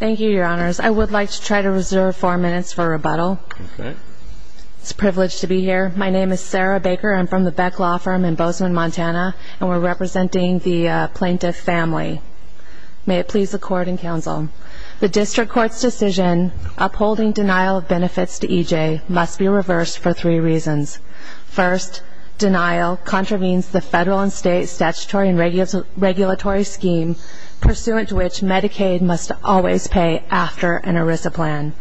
Thank you, Your Honors. I would like to try to reserve four minutes for rebuttal. It's a privilege to be here. My name is Sarah Baker. I'm from the Beck Law Firm in Bozeman, Montana, and we're representing the plaintiff's family. May it please the Court and Counsel, the District Court's decision upholding denial of benefits to E. J. must be reversed for three reasons. First, denial contravenes the federal and state statutory and regulatory scheme pursuant to which Medicaid must always pay after an ERISA plan.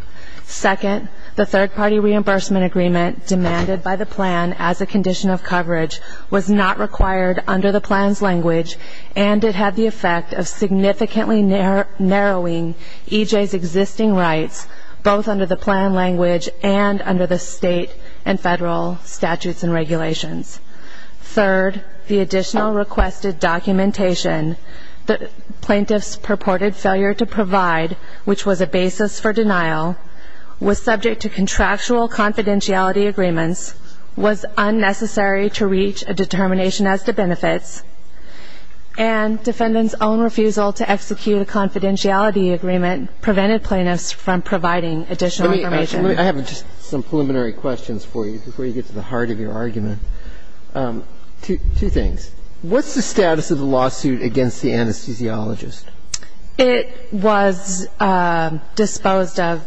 Second, the third-party reimbursement agreement demanded by the plan as a condition of coverage was not required under the plan's language, and it had the effect of significantly narrowing E. J.'s existing rights, both under the plan language and under the state and federal statutes and regulations. Third, the additional requested documentation the plaintiff's purported failure to provide, which was a basis for denial, was subject to contractual confidentiality agreements, was unnecessary to reach a determination as to benefits, and defendant's own refusal to execute a confidentiality agreement prevented plaintiffs from providing additional information. I have just some preliminary questions for you before you get to the heart of your argument. Two things. What's the status of the lawsuit against the anesthesiologist? It was disposed of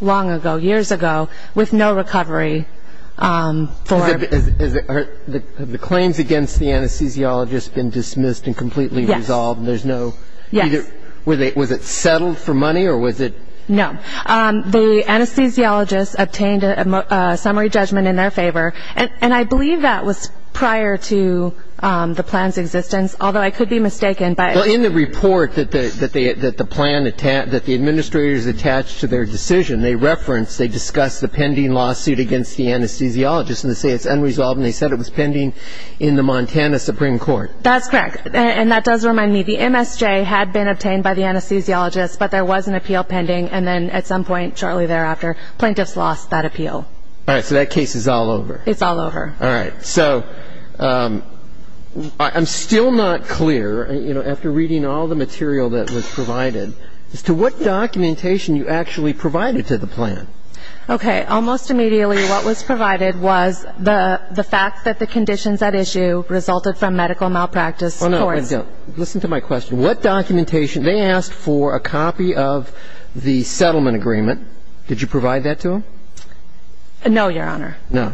long ago, years ago, with no recovery for her. Have the claims against the anesthesiologist been dismissed and completely resolved? Yes. And there's no – Yes. Was it settled for money, or was it – No. The anesthesiologist obtained a summary judgment in their favor, and I believe that was prior to the plan's existence, although I could be mistaken by – Well, in the report that the plan – that the administrators attached to their decision, they referenced – they discussed the pending lawsuit against the anesthesiologist, and they say it's unresolved, and they said it was pending in the Montana Supreme Court. That's correct. And that does remind me, the MSJ had been obtained by the anesthesiologist, but there was an appeal pending, and then at some point shortly thereafter, plaintiffs lost that appeal. All right. So that case is all over. It's all over. All right. So I'm still not clear, you know, after reading all the material that was provided, as to what documentation you actually provided to the plan. Okay. Almost immediately what was provided was the fact that the conditions at issue resulted from medical malpractice courts. Listen to my question. What documentation – they asked for a copy of the settlement agreement. Did you provide that to them? No, Your Honor. No.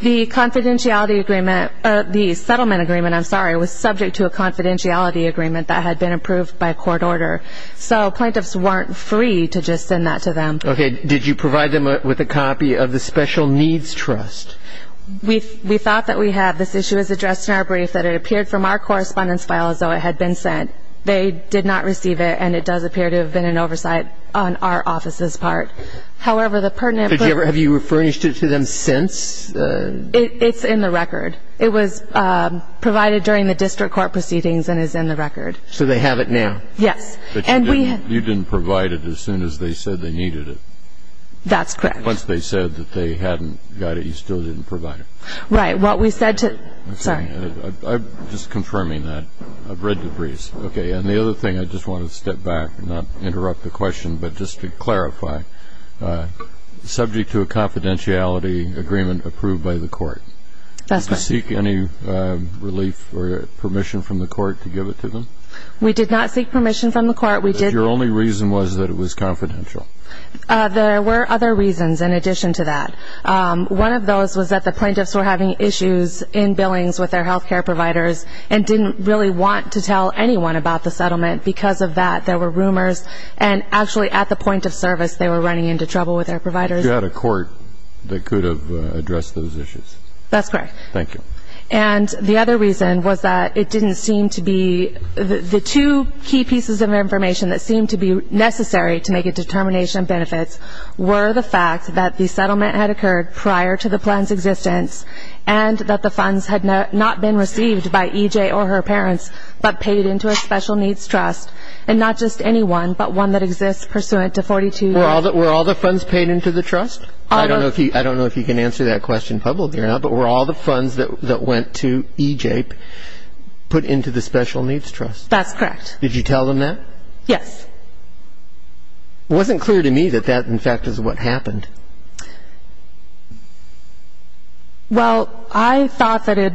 The confidentiality agreement – the settlement agreement, I'm sorry, was subject to a confidentiality agreement that had been approved by court order. So plaintiffs weren't free to just send that to them. Okay. Did you provide them with a copy of the special needs trust? We thought that we had. This issue was addressed in our brief that it appeared from our correspondence file as though it had been sent. They did not receive it, and it does appear to have been an oversight on our office's part. However, the pertinent – Have you refurnished it to them since? It's in the record. It was provided during the district court proceedings and is in the record. So they have it now? Yes. But you didn't provide it as soon as they said they needed it. That's correct. Once they said that they hadn't got it, you still didn't provide it. Right. What we said to – sorry. I'm just confirming that. I've read the briefs. Okay. And the other thing, I just want to step back and not interrupt the question, but just to clarify, subject to a confidentiality agreement approved by the court. That's right. Did you seek any relief or permission from the court to give it to them? We did not seek permission from the court. Your only reason was that it was confidential. There were other reasons in addition to that. One of those was that the plaintiffs were having issues in billings with their health care providers and didn't really want to tell anyone about the settlement. Because of that, there were rumors, and actually at the point of service, they were running into trouble with their providers. You had a court that could have addressed those issues. That's correct. Thank you. And the other reason was that it didn't seem to be – the two key pieces of information that seemed to be necessary to make a determination of benefits were the fact that the settlement had occurred prior to the plan's existence and that the funds had not been received by EJ or her parents but paid into a special needs trust, and not just any one but one that exists pursuant to 42 – Were all the funds paid into the trust? I don't know if you can answer that question publicly or not, but were all the funds that went to EJ put into the special needs trust? That's correct. Did you tell them that? Yes. It wasn't clear to me that that, in fact, is what happened. Well, I thought that it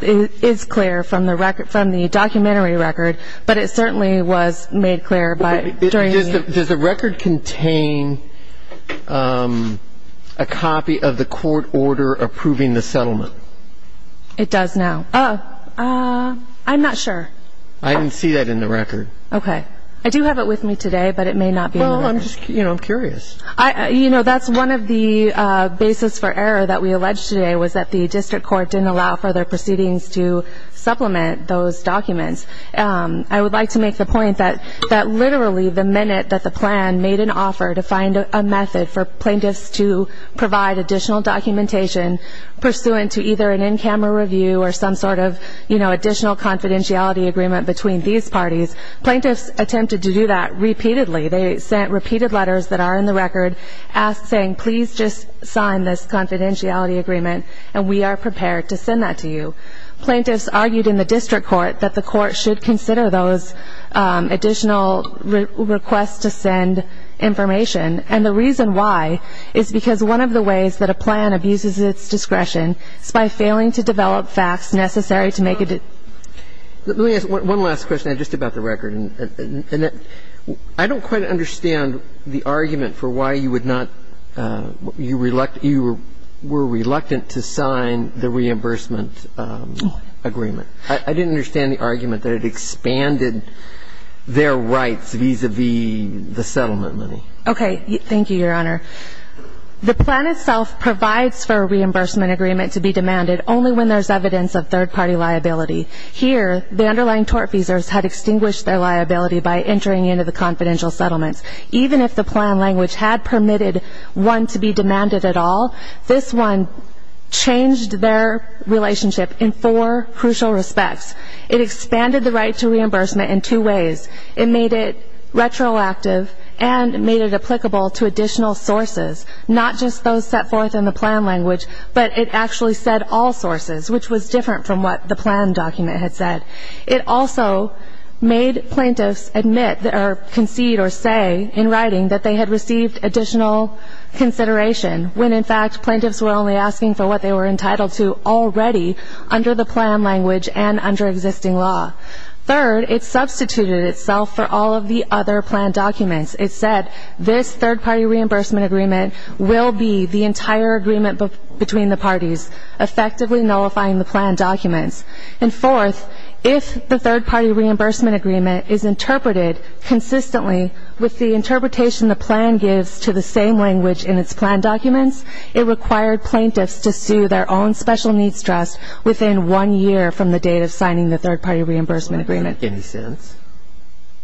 is clear from the documentary record, but it certainly was made clear by – Does the record contain a copy of the court order approving the settlement? It does now. I'm not sure. I didn't see that in the record. Okay. I do have it with me today, but it may not be in the record. Well, I'm just curious. You know, that's one of the basis for error that we alleged today was that the district court didn't allow further proceedings to supplement those documents. I would like to make the point that literally the minute that the plan made an offer to find a method for plaintiffs to provide additional documentation pursuant to either an in-camera review or some sort of additional confidentiality agreement between these parties, plaintiffs attempted to do that repeatedly. They sent repeated letters that are in the record saying, please just sign this confidentiality agreement, and we are prepared to send that to you. Plaintiffs argued in the district court that the court should consider those additional requests to send information, and the reason why is because one of the ways that a plan abuses its discretion is by failing to develop facts necessary to make a – Let me ask one last question just about the record. I don't quite understand the argument for why you would not – you were reluctant to sign the reimbursement agreement. I didn't understand the argument that it expanded their rights vis-à-vis the settlement money. Okay. Thank you, Your Honor. The plan itself provides for a reimbursement agreement to be demanded only when there's evidence of third-party liability. Here, the underlying tort feasors had extinguished their liability by entering into the confidential settlements. Even if the plan language had permitted one to be demanded at all, this one changed their relationship in four crucial respects. It expanded the right to reimbursement in two ways. It made it retroactive and made it applicable to additional sources, not just those set forth in the plan language, but it actually said all sources, which was different from what the plan document had said. It also made plaintiffs admit or concede or say in writing that they had received additional consideration when, in fact, plaintiffs were only asking for what they were entitled to already under the plan language and under existing law. Third, it substituted itself for all of the other plan documents. It said this third-party reimbursement agreement will be the entire agreement between the parties, effectively nullifying the plan documents. And fourth, if the third-party reimbursement agreement is interpreted consistently with the interpretation the plan gives to the same language in its plan documents, it required plaintiffs to sue their own special needs trust within one year from the date of signing the third-party reimbursement agreement.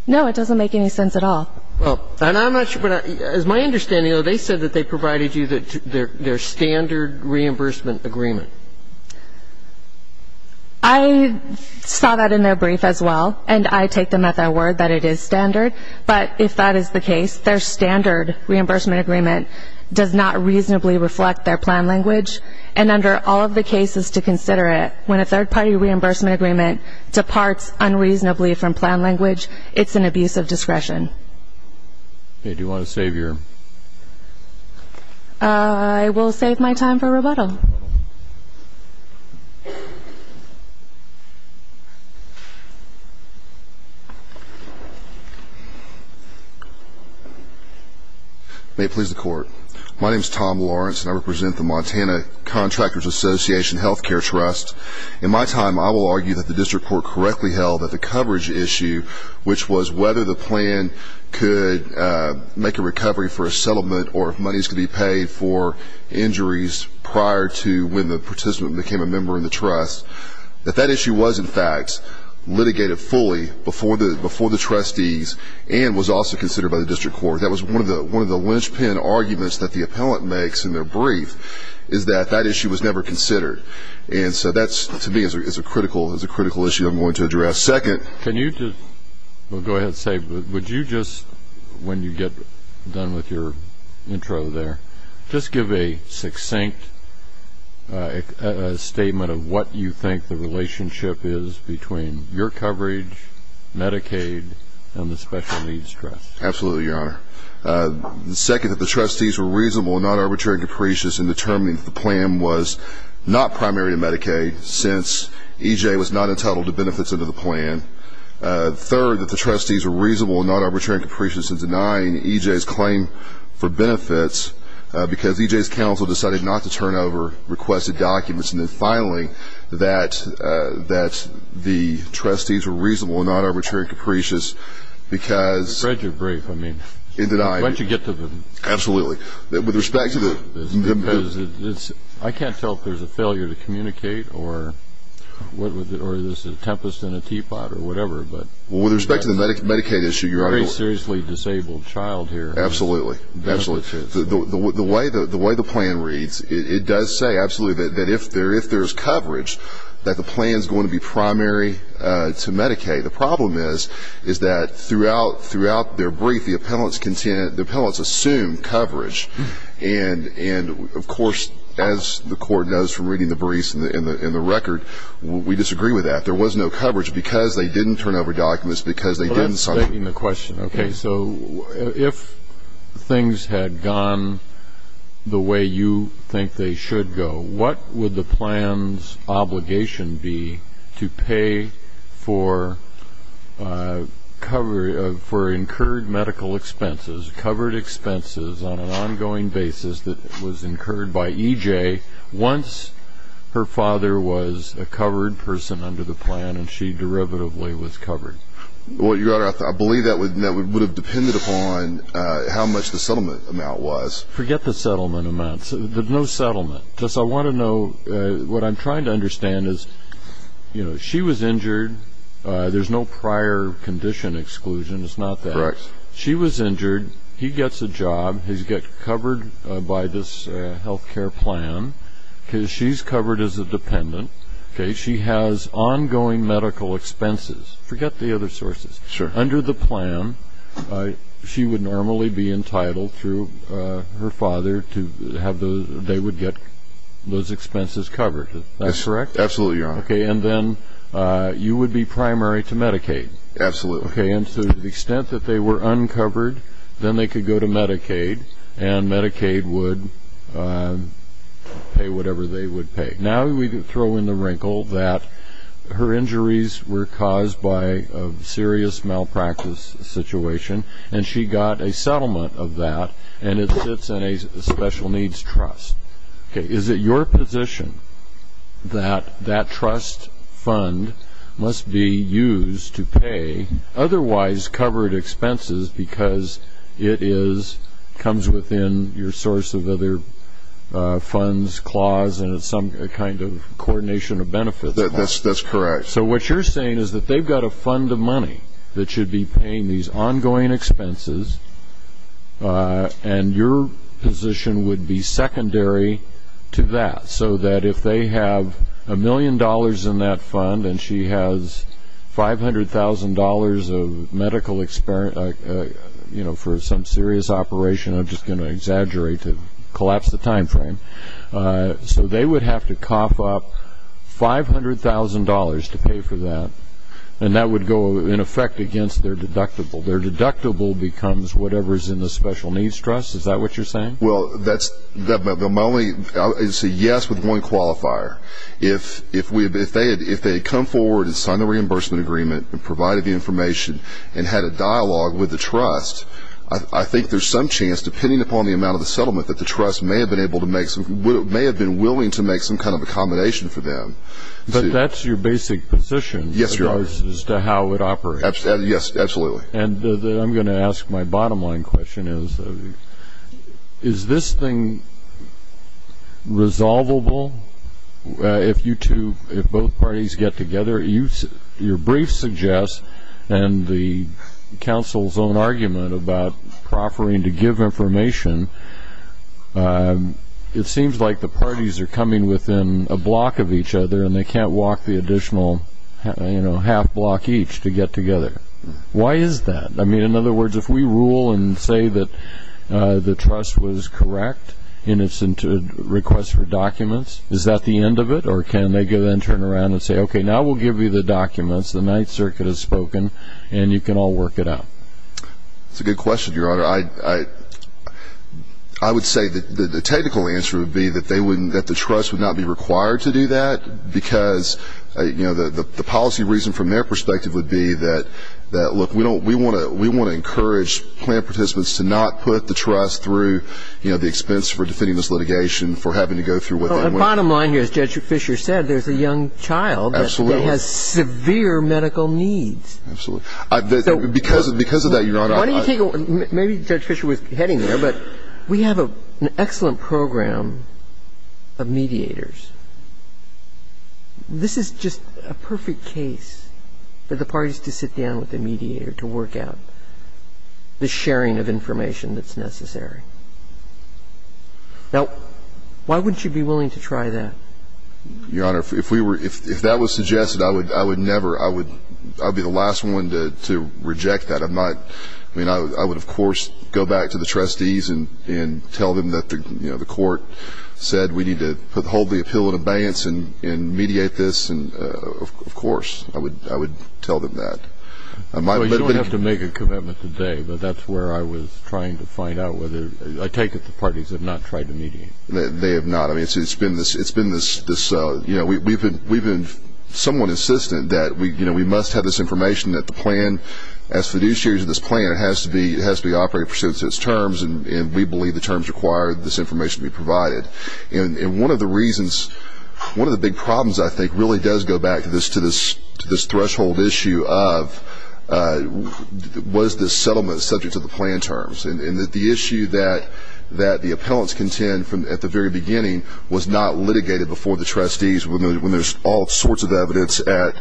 No, it doesn't make any sense at all. Well, and I'm not sure what I – as my understanding, they said that they provided you their standard reimbursement agreement. I saw that in their brief as well, and I take them at their word that it is standard. But if that is the case, their standard reimbursement agreement does not reasonably reflect their plan language. And under all of the cases to consider it, when a third-party reimbursement agreement departs unreasonably from plan language, it's an abuse of discretion. Okay. Do you want to save your – I will save my time for rebuttal. Okay. May it please the Court. My name is Tom Lawrence, and I represent the Montana Contractors Association Healthcare Trust. In my time, I will argue that the district court correctly held that the coverage issue, which was whether the plan could make a recovery for a settlement or if monies could be paid for injuries prior to when the participant became a member in the trust, that that issue was, in fact, litigated fully before the trustees and was also considered by the district court. That was one of the linchpin arguments that the appellant makes in their brief, is that that issue was never considered. And so that, to me, is a critical issue I'm going to address. Can you just – well, go ahead and say. Would you just, when you get done with your intro there, just give a succinct statement of what you think the relationship is between your coverage, Medicaid, and the special needs trust? Absolutely, Your Honor. Second, that the trustees were reasonable and not arbitrary and capricious in determining that the plan was not primary to Medicaid, since EJ was not entitled to benefits under the plan. Third, that the trustees were reasonable and not arbitrary and capricious in denying EJ's claim for benefits because EJ's counsel decided not to turn over requested documents. And then finally, that the trustees were reasonable and not arbitrary and capricious because – I read your brief. I mean, once you get to the – Absolutely. With respect to the – I can't tell if there's a failure to communicate or there's a tempest in a teapot or whatever, but – With respect to the Medicaid issue, Your Honor – A very seriously disabled child here. Absolutely. The way the plan reads, it does say, absolutely, that if there's coverage, that the plan is going to be primary to Medicaid. The problem is that throughout their brief, the appellants assume coverage and, of course, as the Court knows from reading the briefs and the record, we disagree with that. There was no coverage because they didn't turn over documents, because they didn't – But that's beginning the question. Okay. So if things had gone the way you think they should go, what would the plan's obligation be to pay for covered – that was incurred by EJ once her father was a covered person under the plan and she derivatively was covered? Well, Your Honor, I believe that would have depended upon how much the settlement amount was. Forget the settlement amount. There's no settlement. Just I want to know – What I'm trying to understand is, you know, she was injured. There's no prior condition exclusion. It's not that. Correct. She was injured. He gets a job. He gets covered by this health care plan because she's covered as a dependent. Okay. She has ongoing medical expenses. Forget the other sources. Sure. Under the plan, she would normally be entitled through her father to have those – they would get those expenses covered. Is that correct? Absolutely, Your Honor. Okay. And then you would be primary to Medicaid. Absolutely. Okay. And so to the extent that they were uncovered, then they could go to Medicaid, and Medicaid would pay whatever they would pay. Now we throw in the wrinkle that her injuries were caused by a serious malpractice situation, and she got a settlement of that, and it sits in a special needs trust. Okay. Is it your position that that trust fund must be used to pay otherwise covered expenses because it comes within your source of other funds clause and some kind of coordination of benefits clause? That's correct. So what you're saying is that they've got a fund of money that should be paying these ongoing expenses, and your position would be secondary to that, so that if they have a million dollars in that fund and she has $500,000 of medical – for some serious operation. I'm just going to exaggerate to collapse the time frame. So they would have to cough up $500,000 to pay for that, and that would go, in effect, against their deductible. Their deductible becomes whatever is in the special needs trust. Is that what you're saying? Well, that's – my only – it's a yes with one qualifier. If they had come forward and signed the reimbursement agreement and provided the information and had a dialogue with the trust, I think there's some chance, depending upon the amount of the settlement, that the trust may have been able to make some – may have been willing to make some kind of accommodation for them. But that's your basic position. Yes, Your Honor. As to how it operates. Yes, absolutely. And I'm going to ask my bottom-line question is, is this thing resolvable? If you two – if both parties get together, your brief suggests and the counsel's own argument about proffering to give information, it seems like the parties are coming within a block of each other and they can't walk the additional, you know, half block each to get together. Why is that? I mean, in other words, if we rule and say that the trust was correct in its request for documents, is that the end of it? Or can they then turn around and say, okay, now we'll give you the documents, the Ninth Circuit has spoken, and you can all work it out? That's a good question, Your Honor. I would say that the technical answer would be that they wouldn't – that the trust would not be required to do that because, you know, the policy reason from their perspective would be that, look, we want to encourage plaintiff participants to not put the trust through, you know, the expense for defending this litigation, for having to go through what they went through. Well, the bottom line here, as Judge Fisher said, there's a young child that has severe medical needs. Absolutely. Because of that, Your Honor, I – Why don't you take a – maybe Judge Fisher was heading there, but we have an excellent program of mediators. This is just a perfect case for the parties to sit down with a mediator to work out the sharing of information that's necessary. Now, why wouldn't you be willing to try that? Your Honor, if we were – if that was suggested, I would never – I would be the last one to reject that. I'm not – I mean, I would, of course, go back to the trustees and tell them that, you know, the court said we need to hold the appeal in abeyance and mediate this. And, of course, I would tell them that. You don't have to make a commitment today, but that's where I was trying to find out whether – I take it the parties have not tried to mediate. They have not. I mean, it's been this – you know, we've been somewhat insistent that, you know, we must have this information that the plan – as fiduciaries of this plan, it has to be operated pursuant to its terms, and we believe the terms require this information to be provided. And one of the reasons – one of the big problems, I think, really does go back to this – to this threshold issue of was this settlement subject to the plan terms. And the issue that the appellants contend from at the very beginning was not litigated before the trustees when there's all sorts of evidence at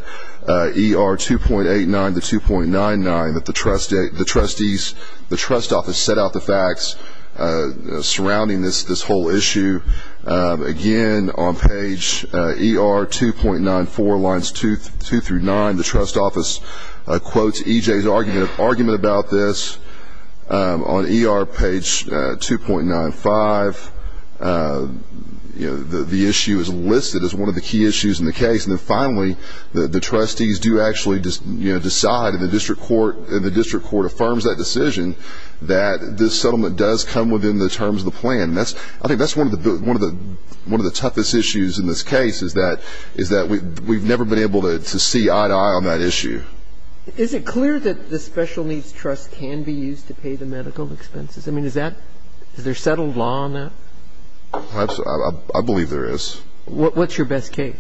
ER 2.89 to 2.99 that the trustees – surrounding this whole issue. Again, on page ER 2.94, lines two through nine, the trust office quotes EJ's argument about this. On ER page 2.95, you know, the issue is listed as one of the key issues in the case. And then, finally, the trustees do actually decide, and the district court affirms that decision, that this settlement does come within the terms of the plan. I think that's one of the toughest issues in this case, is that we've never been able to see eye-to-eye on that issue. Is it clear that the special needs trust can be used to pay the medical expenses? I mean, is that – is there settled law on that? I believe there is. What's your best case?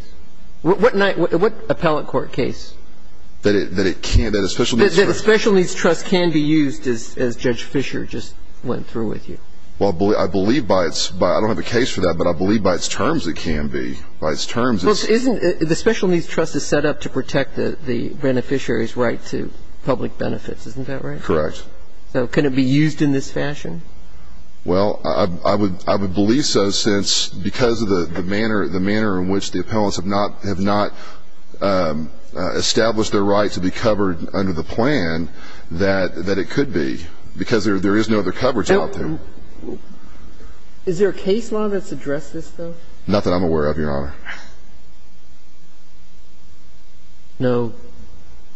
What appellate court case? That it can't – that a special needs trust – Because Judge Fischer just went through with you. Well, I believe by its – I don't have a case for that, but I believe by its terms it can be. By its terms, it's – Well, isn't – the special needs trust is set up to protect the beneficiary's right to public benefits. Isn't that right? Correct. So can it be used in this fashion? Well, I would believe so since – because of the manner in which the appellants have not established their right to be covered under the plan, that it could be, because there is no other coverage out there. Is there a case law that's addressed this, though? Not that I'm aware of, Your Honor. No?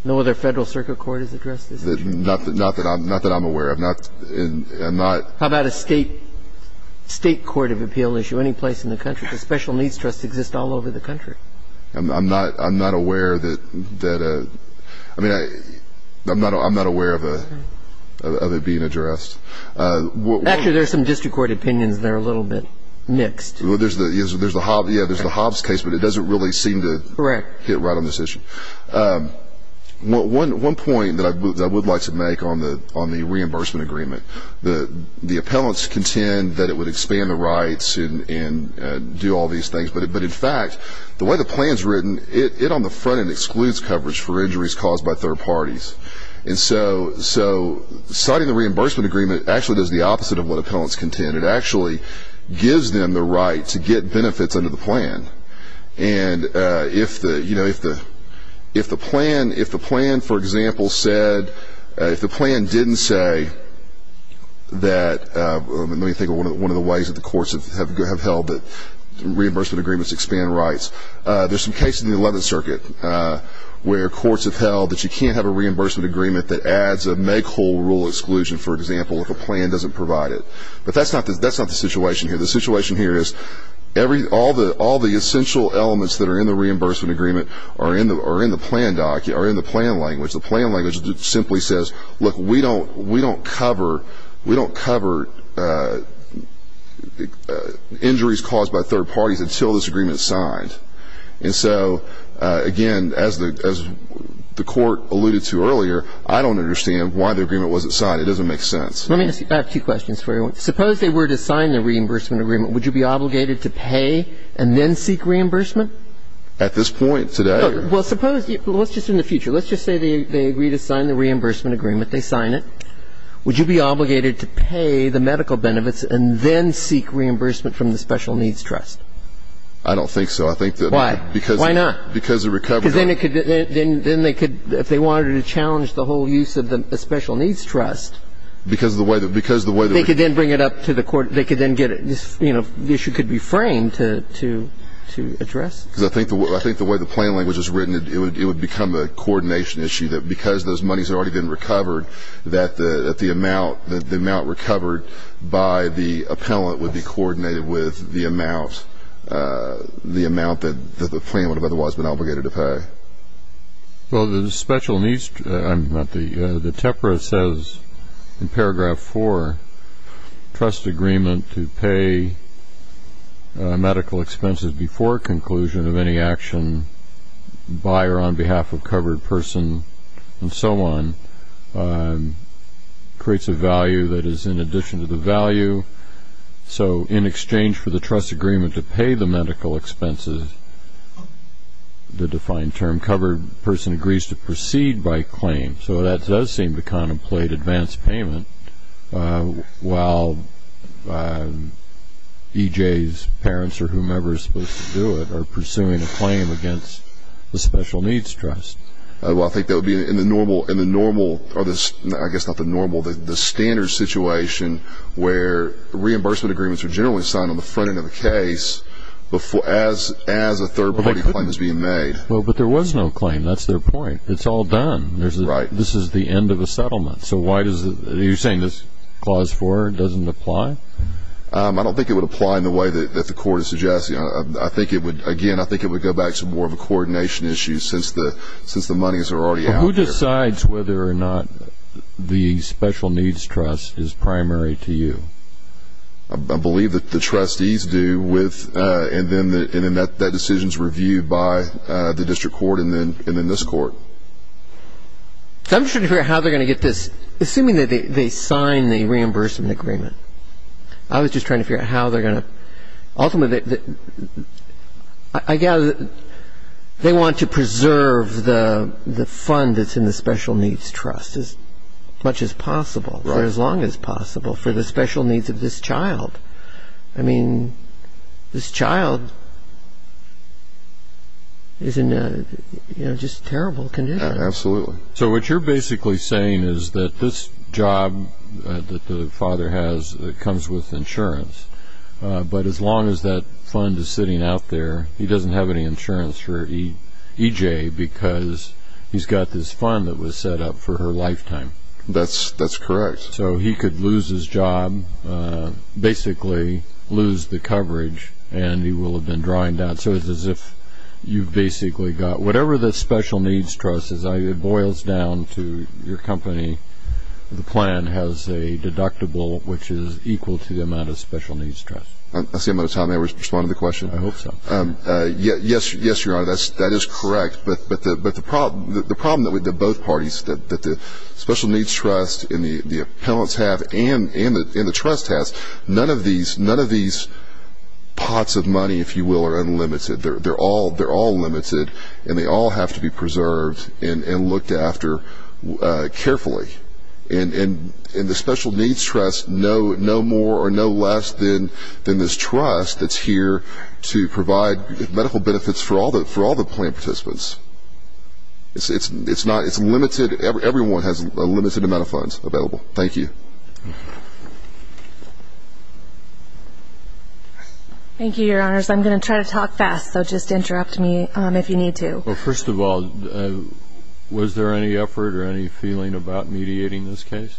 No other Federal Circuit Court has addressed this? Not that I'm aware of. I'm not – How about a state court of appeal issue, any place in the country? The special needs trust exists all over the country. I'm not aware that – I mean, I'm not aware of it being addressed. Actually, there are some district court opinions that are a little bit mixed. There's the Hobbs case, but it doesn't really seem to hit right on this issue. One point that I would like to make on the reimbursement agreement, the appellants contend that it would expand the rights and do all these things, but, in fact, the way the plan is written, it on the front end excludes coverage for injuries caused by third parties. And so citing the reimbursement agreement actually does the opposite of what appellants contend. It actually gives them the right to get benefits under the plan. And if the plan, for example, said – if the plan didn't say that – There's some cases in the 11th Circuit where courts have held that you can't have a reimbursement agreement that adds a make whole rule exclusion, for example, if a plan doesn't provide it. But that's not the situation here. The situation here is all the essential elements that are in the reimbursement agreement are in the plan language. The plan language simply says, look, we don't cover injuries caused by third parties until this agreement is signed. And so, again, as the court alluded to earlier, I don't understand why the agreement wasn't signed. It doesn't make sense. Let me ask you two questions for you. Suppose they were to sign the reimbursement agreement, would you be obligated to pay and then seek reimbursement? At this point today? Well, suppose – let's just in the future. Let's just say they agree to sign the reimbursement agreement. They sign it. Would you be obligated to pay the medical benefits and then seek reimbursement from the Special Needs Trust? I don't think so. I think that – Why? Why not? Because the recovery – Because then it could – then they could – if they wanted to challenge the whole use of the Special Needs Trust – Because of the way – because of the way – They could then bring it up to the court. They could then get – you know, the issue could be framed to address. Because I think the way the plan language is written, it would become a coordination issue, that because those monies have already been recovered, that the amount – that the amount recovered by the appellant would be coordinated with the amount – the amount that the plan would have otherwise been obligated to pay. Well, the Special Needs – the TEPRA says in paragraph 4, trust agreement to pay medical expenses before conclusion of any action by or on behalf of covered person and so on creates a value that is in addition to the value. So in exchange for the trust agreement to pay the medical expenses, the defined term covered person agrees to proceed by claim. So that does seem to contemplate advance payment, while EJ's parents or whomever is supposed to do it are pursuing a claim against the Special Needs Trust. Well, I think that would be in the normal – in the normal – or the – I guess not the normal, the standard situation where reimbursement agreements are generally signed on the front end of the case as a third party claim is being made. Well, but there was no claim. That's their point. It's all done. Right. This is the end of a settlement. So why does – you're saying this clause 4 doesn't apply? I don't think it would apply in the way that the court is suggesting. I think it would – again, I think it would go back to more of a coordination issue since the – since the monies are already out there. It decides whether or not the Special Needs Trust is primary to you. I believe that the trustees do with – and then that decision is reviewed by the district court and then this court. I'm just trying to figure out how they're going to get this. Assuming that they sign the reimbursement agreement, I was just trying to figure out how they're going to – ultimately, I gather they want to preserve the fund that's in the Special Needs Trust as much as possible, for as long as possible for the special needs of this child. I mean, this child is in just terrible condition. Absolutely. So what you're basically saying is that this job that the father has comes with insurance, but as long as that fund is sitting out there, he doesn't have any insurance for EJ because he's got this fund that was set up for her lifetime. That's correct. So he could lose his job, basically lose the coverage, and he will have been drawing down. So it's as if you've basically got – whatever the Special Needs Trust is, it boils down to your company. The plan has a deductible which is equal to the amount of Special Needs Trust. That's the amount of time I was responding to the question. I hope so. Yes, Your Honor, that is correct. But the problem with both parties, that the Special Needs Trust and the appellants have and the trust has, none of these pots of money, if you will, are unlimited. They're all limited, and they all have to be preserved and looked after carefully. And the Special Needs Trust, no more or no less than this trust that's here to provide medical benefits for all the plan participants. It's limited. Everyone has a limited amount of funds available. Thank you. Thank you, Your Honors. I'm going to try to talk fast, so just interrupt me if you need to. Well, first of all, was there any effort or any feeling about mediating this case?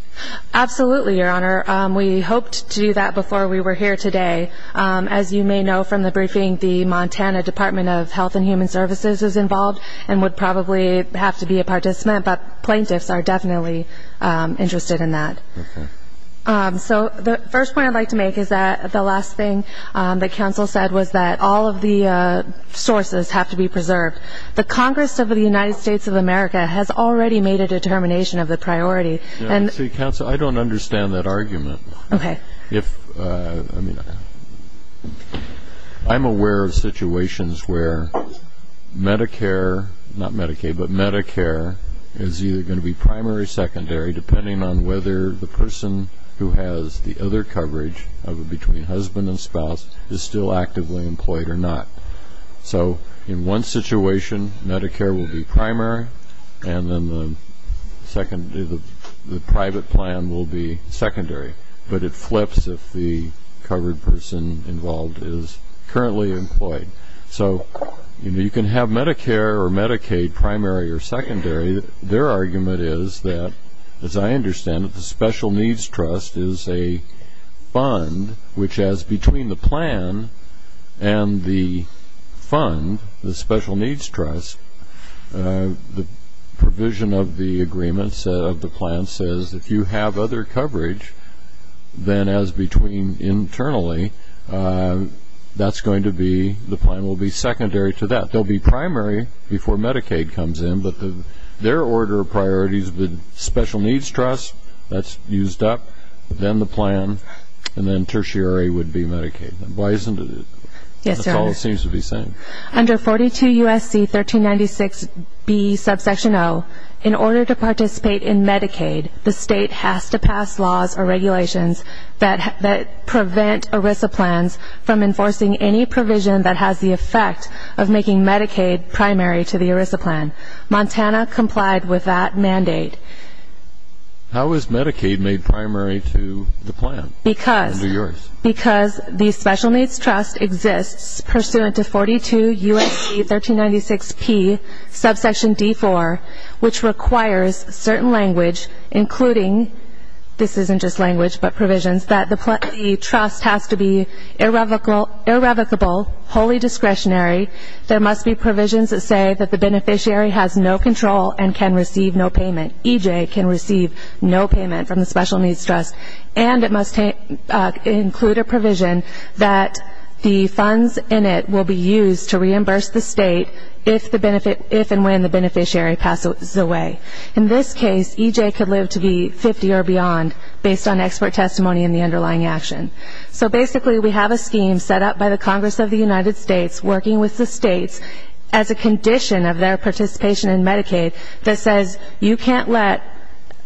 Absolutely, Your Honor. We hoped to do that before we were here today. As you may know from the briefing, the Montana Department of Health and Human Services is involved and would probably have to be a participant, but plaintiffs are definitely interested in that. Okay. So the first point I'd like to make is that the last thing that counsel said was that all of the sources have to be preserved. The Congress of the United States of America has already made a determination of the priority. Counsel, I don't understand that argument. Okay. If, I mean, I'm aware of situations where Medicare, not Medicaid, but Medicare is either going to be primary or secondary, depending on whether the person who has the other coverage between husband and spouse is still actively employed or not. So in one situation, Medicare will be primary, and then the private plan will be secondary, but it flips if the covered person involved is currently employed. So you can have Medicare or Medicaid primary or secondary. Their argument is that, as I understand it, the Special Needs Trust is a fund, which as between the plan and the fund, the Special Needs Trust, the provision of the agreements of the plan says if you have other coverage than as between internally, that's going to be, the plan will be secondary to that. They'll be primary before Medicaid comes in, but their order of priority is the Special Needs Trust, that's used up, then the plan, and then tertiary would be Medicaid. Why isn't it? That's all it seems to be saying. Under 42 U.S.C. 1396B subsection O, in order to participate in Medicaid, the state has to pass laws or regulations that prevent ERISA plans from enforcing any provision that has the effect of making Medicaid primary to the ERISA plan. Montana complied with that mandate. How is Medicaid made primary to the plan? Because the Special Needs Trust exists pursuant to 42 U.S.C. 1396P subsection D4, which requires certain language, including, this isn't just language but provisions, that the trust has to be irrevocable, wholly discretionary. There must be provisions that say that the beneficiary has no control and can receive no payment. EJ can receive no payment from the Special Needs Trust, and it must include a provision that the funds in it will be used to reimburse the state if and when the beneficiary passes away. In this case, EJ could live to be 50 or beyond, based on expert testimony in the underlying action. So basically we have a scheme set up by the Congress of the United States, working with the states as a condition of their participation in Medicaid, that says you can't let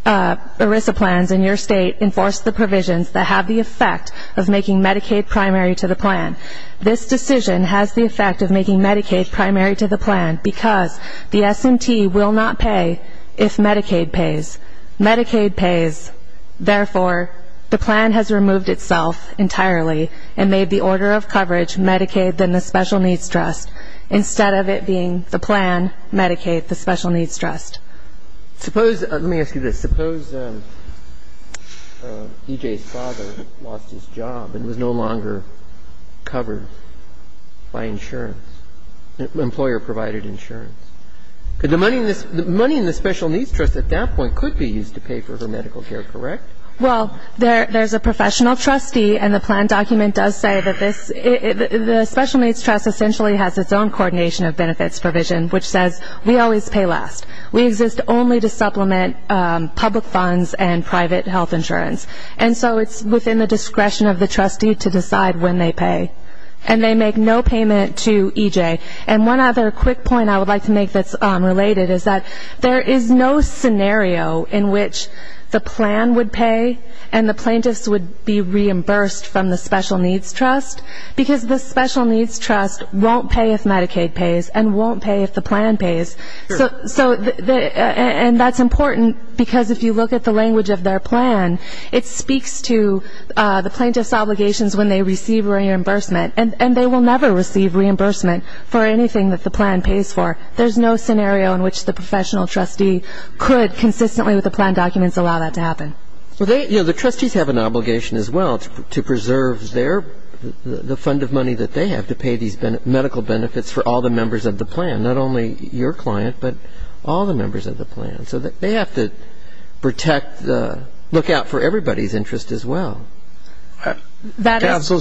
ERISA plans in your state enforce the provisions that have the effect of making Medicaid primary to the plan. This decision has the effect of making Medicaid primary to the plan because the S&T will not pay if Medicaid pays. Medicaid pays. Therefore, the plan has removed itself entirely and made the order of coverage Medicaid, then the Special Needs Trust, instead of it being the plan, Medicaid, the Special Needs Trust. Suppose, let me ask you this, suppose EJ's father lost his job and was no longer covered by insurance, employer-provided insurance. The money in the Special Needs Trust at that point could be used to pay for her medical care, correct? Well, there's a professional trustee, and the plan document does say that this the Special Needs Trust essentially has its own coordination of benefits provision, which says we always pay last. We exist only to supplement public funds and private health insurance. And so it's within the discretion of the trustee to decide when they pay. And they make no payment to EJ. And one other quick point I would like to make that's related is that there is no scenario in which the plan would pay and the plaintiffs would be reimbursed from the Special Needs Trust because the Special Needs Trust won't pay if Medicaid pays and won't pay if the plan pays. And that's important because if you look at the language of their plan, it speaks to the plaintiff's obligations when they receive reimbursement. And they will never receive reimbursement for anything that the plan pays for. There's no scenario in which the professional trustee could consistently with the plan documents allow that to happen. The trustees have an obligation as well to preserve the fund of money that they have to pay these medical benefits for all the members of the plan, not only your client, but all the members of the plan. So they have to protect, look out for everybody's interest as well. Counsel,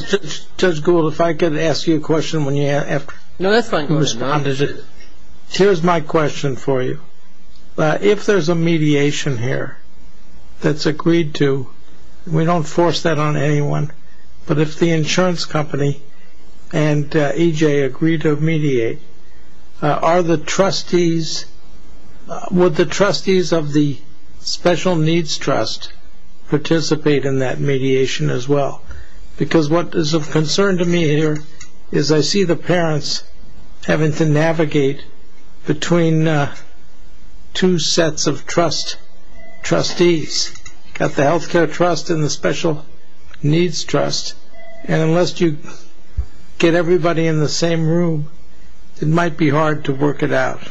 Judge Gould, if I could ask you a question when you have responded. No, that's fine. Here's my question for you. If there's a mediation here that's agreed to, we don't force that on anyone, but if the insurance company and EJ agree to mediate, would the trustees of the Special Needs Trust participate in that mediation as well? Because what is of concern to me here is I see the parents having to navigate between two sets of trustees. You've got the Healthcare Trust and the Special Needs Trust. And unless you get everybody in the same room, it might be hard to work it out.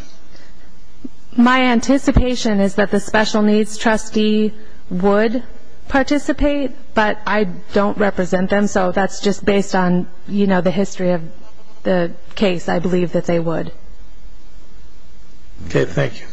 My anticipation is that the Special Needs Trustee would participate, but I don't represent them, so that's just based on, you know, the history of the case. I believe that they would. Okay, thank you.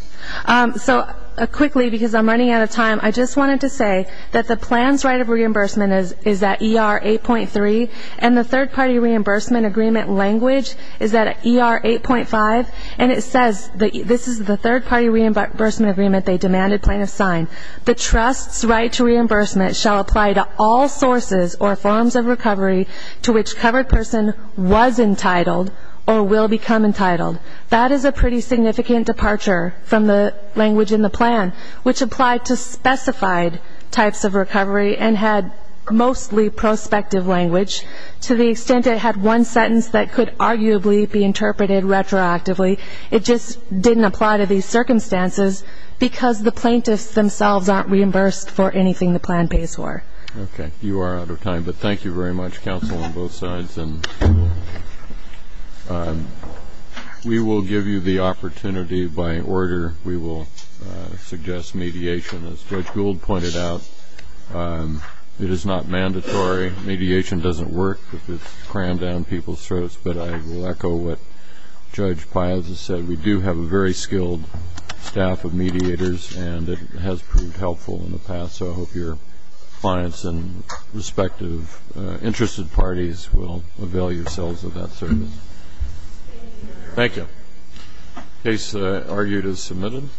So quickly, because I'm running out of time, I just wanted to say that the plan's right of reimbursement is at ER 8.3, and the third-party reimbursement agreement language is at ER 8.5, and it says that this is the third-party reimbursement agreement they demanded plaintiffs sign. The trust's right to reimbursement shall apply to all sources or forms of recovery to which covered person was entitled or will become entitled. That is a pretty significant departure from the language in the plan, which applied to specified types of recovery and had mostly prospective language, to the extent it had one sentence that could arguably be interpreted retroactively. It just didn't apply to these circumstances because the plaintiffs themselves aren't reimbursed for anything the plan pays for. Okay. You are out of time, but thank you very much, counsel on both sides. And we will give you the opportunity by order. We will suggest mediation. As Judge Gould pointed out, it is not mandatory. Mediation doesn't work if it's crammed down people's throats, but I will echo what Judge Piazza said. We do have a very skilled staff of mediators, and it has proved helpful in the past, so I hope your clients and respective interested parties will avail yourselves of that service. Thank you. The case that I argued is submitted.